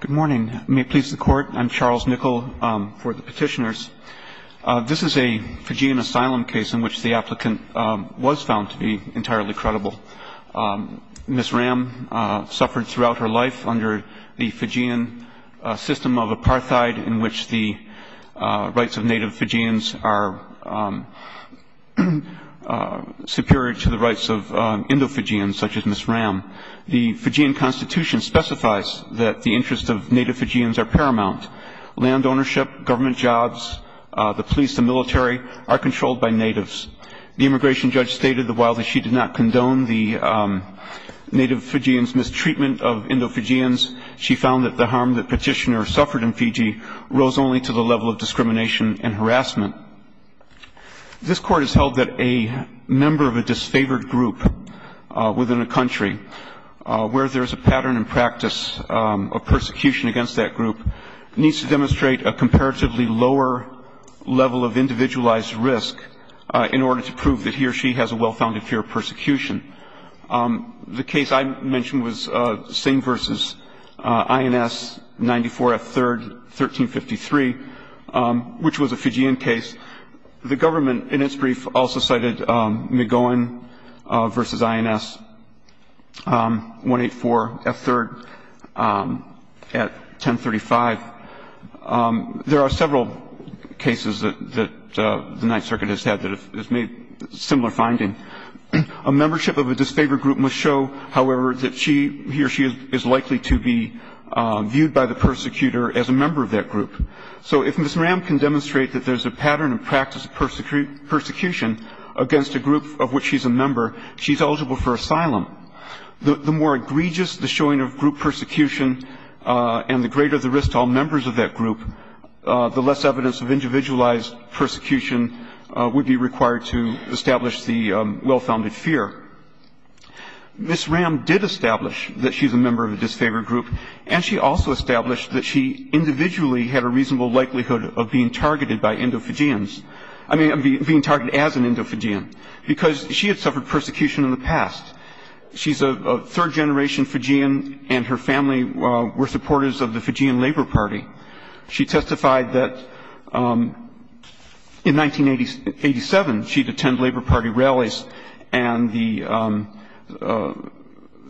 Good morning. May it please the Court, I'm Charles Nickel for the Petitioners. This is a Fijian asylum case in which the applicant was found to be entirely credible. Ms. Ram suffered throughout her life under the Fijian system of apartheid, in which the rights of native Fijians are superior to the rights of Indo-Fijians, such as Ms. Ram. The Fijian Constitution specifies that the interests of native Fijians are paramount. Land ownership, government jobs, the police, the military are controlled by natives. The immigration judge stated that while she did not condone the native Fijians' mistreatment of Indo-Fijians, she found that the harm that Petitioners suffered in Fiji rose only to the level of discrimination and harassment. This Court has held that a member of a disfavored group within a country where there is a pattern and practice of persecution against that group needs to demonstrate a comparatively lower level of individualized risk in order to prove that he or she has a well-founded fear of persecution. The case I mentioned was Singh v. INS 94F 3rd, 1353, which was a Fijian case. The government in its brief also cited McGowan v. INS 184F 3rd at 1035. There are several cases that the Ninth Circuit has had that have made similar findings. A membership of a disfavored group must show, however, that he or she is likely to be viewed by the persecutor as a member of that group. So if Ms. Ram can demonstrate that there's a pattern and practice of persecution against a group of which she's a member, she's eligible for asylum. The more egregious the showing of group persecution and the greater the risk to all members of that group, the less evidence of individualized persecution would be required to establish the well-founded fear. Ms. Ram did establish that she's a member of a disfavored group, and she also established that she individually had a reasonable likelihood of being targeted by Indo-Fijians, I mean being targeted as an Indo-Fijian, because she had suffered persecution in the past. She's a third-generation Fijian, and her family were supporters of the Fijian Labor Party. She testified that in 1987 she'd attend Labor Party rallies, and the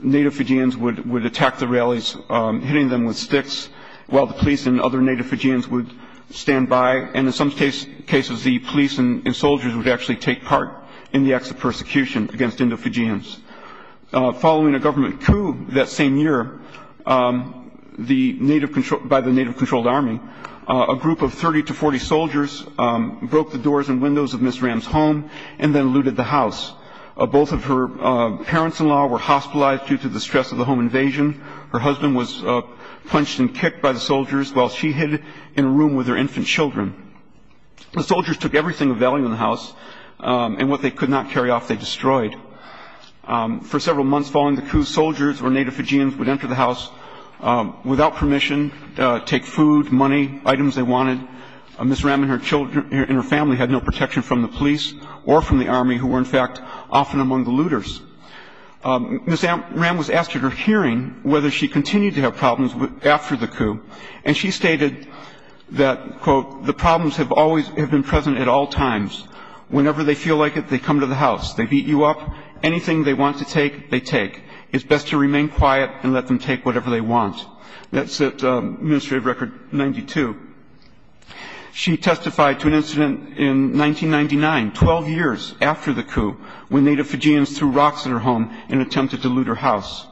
Native Fijians would attack the rallies, hitting them with sticks, while the police and other Native Fijians would stand by, and in some cases the police and soldiers would actually take part in the acts of persecution against Indo-Fijians. Following a government coup that same year by the Native-controlled Army, a group of 30 to 40 soldiers broke the doors and windows of Ms. Ram's home and then looted the house. Both of her parents-in-law were hospitalized due to the stress of the home invasion. Her husband was punched and kicked by the soldiers while she hid in a room with her infant children. The soldiers took everything of value in the house, and what they could not carry off they destroyed. For several months following the coup, soldiers or Native Fijians would enter the house without permission, take food, money, items they wanted. Ms. Ram and her children and her family had no protection from the police or from the Army, who were in fact often among the looters. Ms. Ram was asked at her hearing whether she continued to have problems after the coup, and she stated that, quote, the problems have always been present at all times. Whenever they feel like it, they come to the house. They beat you up. Anything they want to take, they take. It's best to remain quiet and let them take whatever they want. That's at administrative record 92. She testified to an incident in 1999, 12 years after the coup, when Native Fijians threw rocks at her home in an attempt to dilute her house.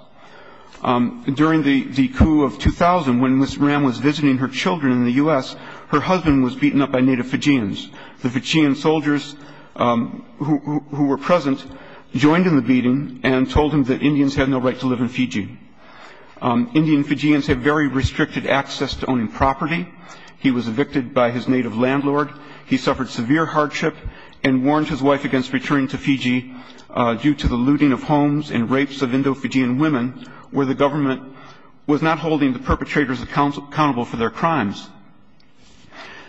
During the coup of 2000, when Ms. Ram was visiting her children in the U.S., her husband was beaten up by Native Fijians. The Fijian soldiers who were present joined in the beating and told him that Indians had no right to live in Fiji. Indian Fijians have very restricted access to owning property. He was evicted by his Native landlord. He suffered severe hardship and warned his wife against returning to Fiji due to the looting of homes and rapes of Indo-Fijian women, where the government was not holding the perpetrators accountable for their crimes.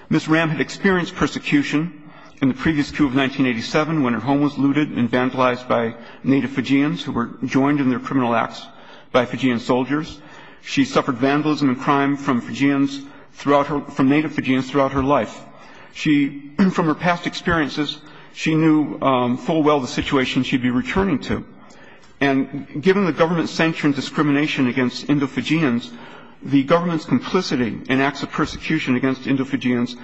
Ms. Ram had experienced persecution in the previous coup of 1987 when her home was looted and vandalized by Native Fijians who were joined in their criminal acts by Fijian soldiers. She suffered vandalism and crime from Fijians throughout her – from Native Fijians throughout her life. She – from her past experiences, she knew full well the situation she'd be returning to. And given the government's sanctioned discrimination against Indo-Fijians, the government's complicity in acts of persecution against Indo-Fijians,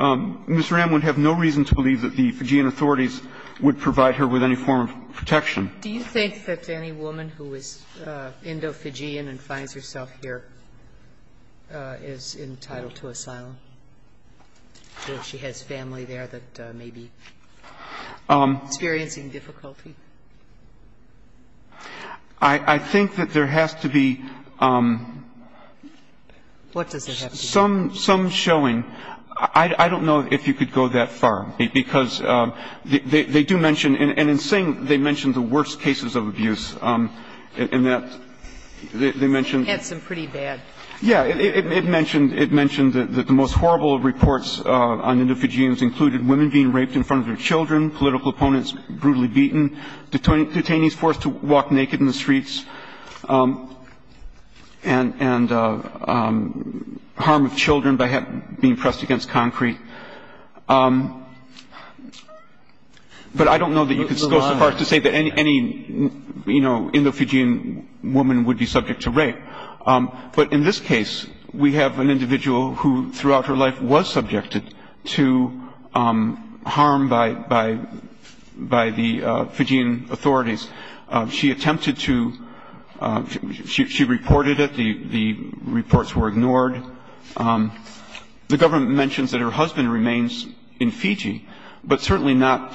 Ms. Ram would have no reason to believe that the Fijian authorities would provide her with any form of protection. Do you think that any woman who is Indo-Fijian and finds herself here is entitled to asylum, or she has family there that may be experiencing difficulty? I think that there has to be some showing. I don't know if you could go that far, because they do mention – and in saying they mention the worst cases of abuse, in that they mention – It had some pretty bad. Yeah. It mentioned – it mentioned that the most horrible reports on Indo-Fijians included women being raped in front of their children, political opponents brutally beaten, detainees forced to walk naked in the streets, and harm of children by being pressed against concrete. But I don't know that you could go so far as to say that any, you know, Indo-Fijian woman would be subject to rape. But in this case, we have an individual who throughout her life was subjected to harm by the Fijian authorities. She attempted to – she reported it. The reports were ignored. The government mentions that her husband remains in Fiji, but certainly not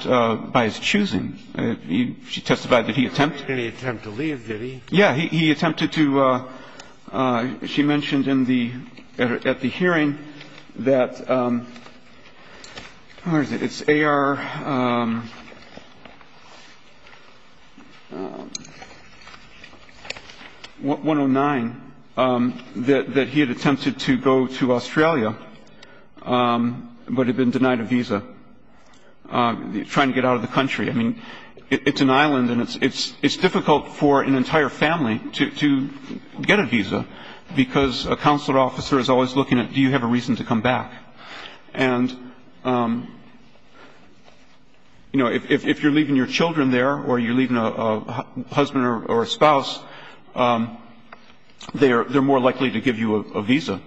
by his choosing. She testified that he attempted. Did he attempt to leave? Did he? Yeah. He attempted to – she mentioned in the – at the hearing that – where is it? It's AR-109, that he had attempted to go to Australia but had been denied a visa trying to get out of the country. I mean, it's an island and it's difficult for an entire family to get a visa because a consular officer is always looking at do you have a reason to come back. And, you know, if you're leaving your children there or you're leaving a husband or a spouse, they're more likely to give you a visa.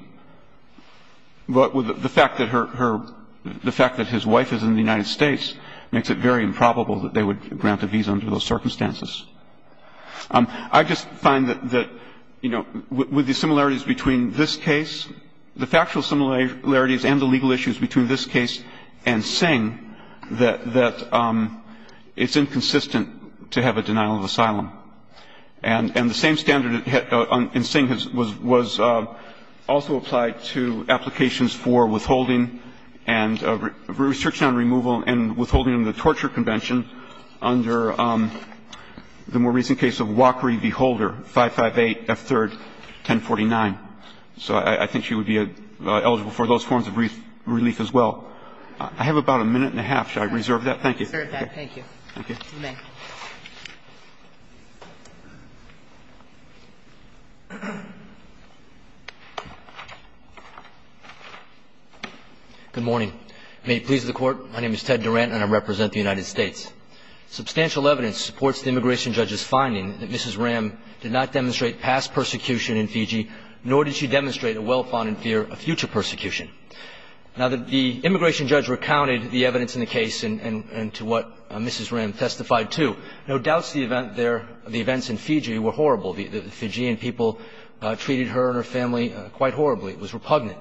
But the fact that her – the fact that his wife is in the United States makes it very improbable that they would grant a visa under those circumstances. I just find that, you know, with the similarities between this case, the factual similarities and the legal issues between this case and Sing, that it's inconsistent to have a denial of asylum. And the same standard in Sing was also applied to applications for withholding and restriction on removal and withholding under the Torture Convention under the more recent case of Walkery v. Holder, 558 F. 3rd, 1049. So I think she would be eligible for those forms of relief as well. I have about a minute and a half. Should I reserve that? Thank you. Thank you. You may. Good morning. May it please the Court. My name is Ted Durant and I represent the United States. Substantial evidence supports the immigration judge's finding that Mrs. Ram did not experience harassment, nor did she demonstrate a well-founded fear of future persecution. Now, the immigration judge recounted the evidence in the case and to what Mrs. Ram testified to. No doubt the events in Fiji were horrible. The Fijian people treated her and her family quite horribly. It was repugnant.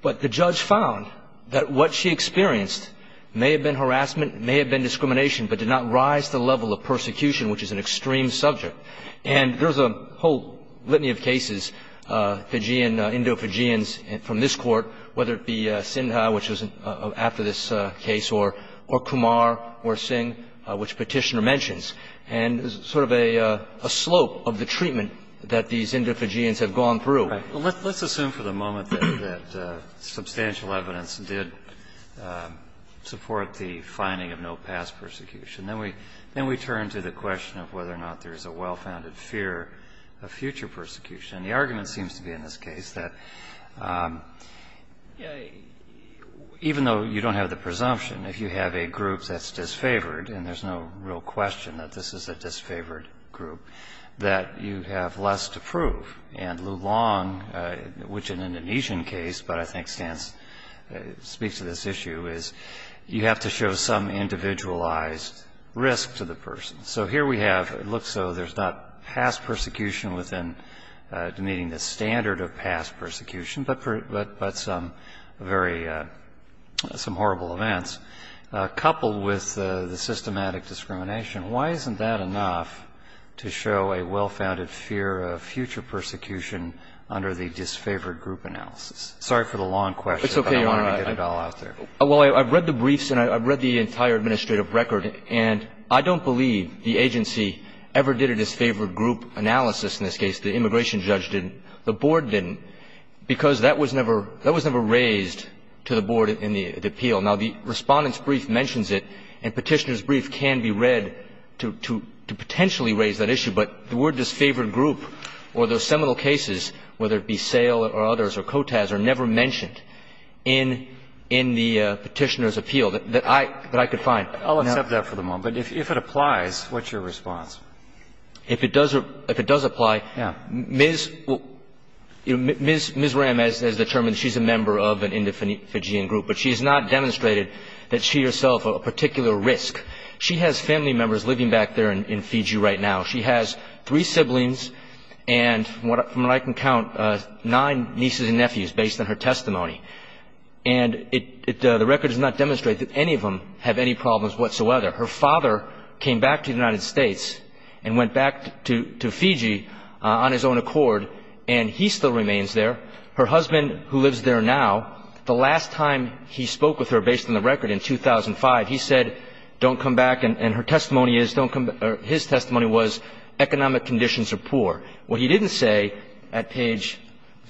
But the judge found that what she experienced may have been harassment, may have been discrimination, but did not rise to the level of persecution, which is an extreme subject. And there's a whole litany of cases, Fijian, Indo-Fijians from this Court, whether it be Sinha, which was after this case, or Kumar or Singh, which Petitioner mentions, and sort of a slope of the treatment that these Indo-Fijians have gone through. Let's assume for the moment that substantial evidence did support the finding of no past persecution. Then we turn to the question of whether or not there's a well-founded fear of future persecution. The argument seems to be in this case that even though you don't have the presumption, if you have a group that's disfavored, and there's no real question that this is a disfavored group, that you have less to prove. And Lu Long, which in an Indonesian case, but I think speaks to this issue, is you have to show some individualized risk to the person. So here we have, it looks so there's not past persecution within meeting the standard of past persecution, but some very, some horrible events. Coupled with the systematic discrimination, why isn't that enough to show a well-founded fear of future persecution under the disfavored group analysis? Sorry for the long question, but I wanted to get it all out there. Well, I've read the briefs and I've read the entire administrative record, and I don't believe the agency ever did a disfavored group analysis in this case. The immigration judge didn't. The board didn't, because that was never raised to the board in the appeal. Now, the Respondent's brief mentions it, and Petitioner's brief can be read to potentially raise that issue, but the word disfavored group or those seminal cases, whether it be Petitioner's appeal, that I could find. I'll accept that for the moment. If it applies, what's your response? If it does apply, Ms. Ram has determined she's a member of an Indo-Fijian group, but she has not demonstrated that she herself a particular risk. She has family members living back there in Fiji right now. She has three siblings and, from what I can count, nine nieces and nephews based on her The record does not demonstrate that any of them have any problems whatsoever. Her father came back to the United States and went back to Fiji on his own accord, and he still remains there. Her husband, who lives there now, the last time he spoke with her based on the record in 2005, he said, don't come back, and her testimony is, his testimony was, economic conditions are poor. What he didn't say at page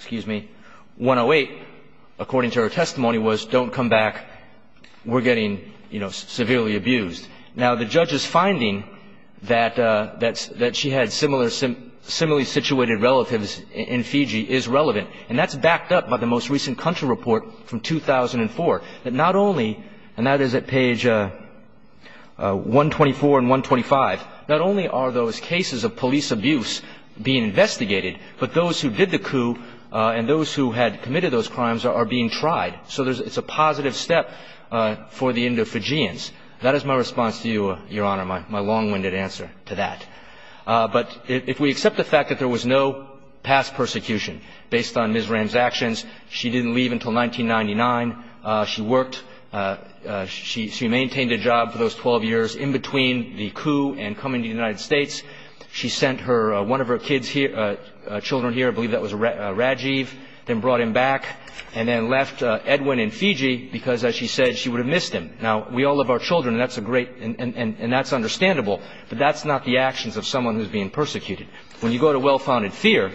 108, according to her testimony, was don't come back, we're getting, you know, severely abused. Now, the judge's finding that she had similarly situated relatives in Fiji is relevant, and that's backed up by the most recent country report from 2004, that not only, and that but those who did the coup and those who had committed those crimes are being tried. So it's a positive step for the Indo-Fijians. That is my response to you, Your Honor, my long-winded answer to that. But if we accept the fact that there was no past persecution based on Ms. Ram's actions, she didn't leave until 1999. She worked. She maintained a job for those 12 years in between the coup and coming to the United States. She sent her, one of her kids here, children here, I believe that was Rajiv, then brought him back, and then left Edwin in Fiji because, as she said, she would have missed him. Now, we all love our children, and that's a great, and that's understandable, but that's not the actions of someone who's being persecuted. When you go to well-founded fear,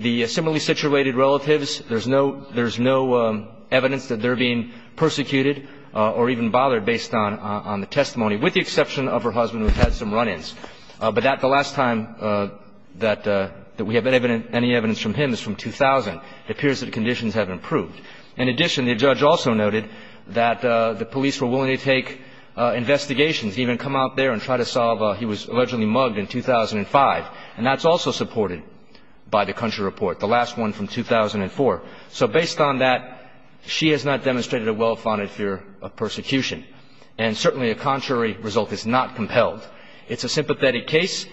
the similarly situated relatives, there's no, there's no evidence that they're being persecuted or even bothered based on the testimony, with the exception of her husband, who's had some run-ins. But that, the last time that we have any evidence from him is from 2000. It appears that the conditions have improved. In addition, the judge also noted that the police were willing to take investigations, even come out there and try to solve a, he was allegedly mugged in 2005, and that's also supported by the country report, the last one from 2004. So based on that, she has not demonstrated a well-founded fear of persecution. And certainly a contrary result is not compelled. It's a sympathetic case.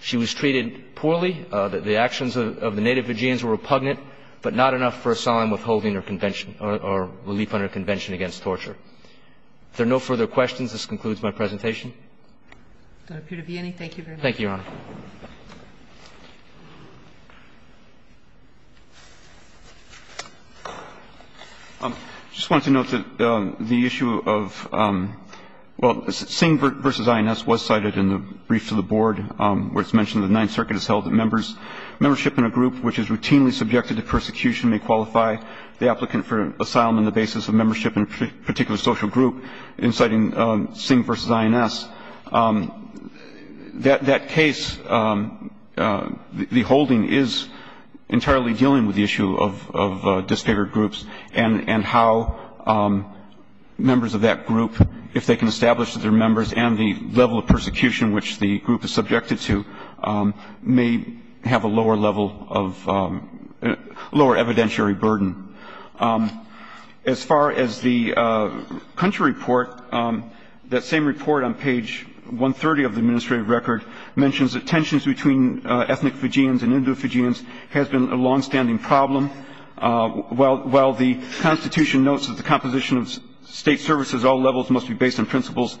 She was treated poorly. The actions of the native Fijians were repugnant, but not enough for a solemn withholding her convention or relief on her convention against torture. If there are no further questions, this concludes my presentation. Thank you, Your Honor. I just wanted to note that the issue of, well, Singh v. INS was cited in the brief to the board where it's mentioned the Ninth Circuit has held that membership in a group which is routinely subjected to persecution may qualify the applicant for asylum on the basis of membership in a particular social group, inciting Singh v. INS. That case, the holding is entirely dealing with the issue of disfavored groups and how members of that group, if they can establish that they're members and the level of persecution which the group is subjected to, may have a lower level of, lower evidentiary burden. As far as the country report, that same report on page 130 of the administrative record mentions that tensions between ethnic Fijians and Indo-Fijians has been a longstanding problem. While the Constitution notes that the composition of state services at all levels must be based on principles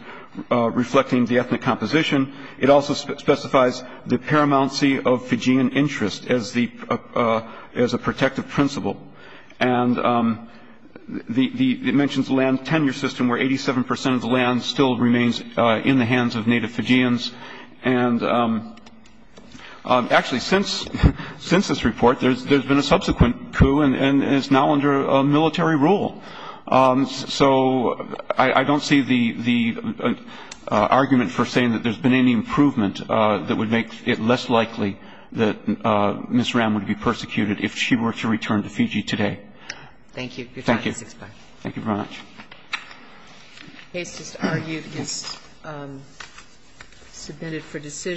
reflecting the ethnic composition, it also specifies the paramountcy of Fijian interest as a protective principle. And it mentions land tenure system where 87 percent of the land still remains in the hands of native Fijians. And actually, since this report, there's been a subsequent coup, and it's now under military rule. So I don't see the argument for saying that there's been any improvement that would make it less likely that Ms. Ram would be persecuted if she were to return to Fiji today. Thank you. Thank you.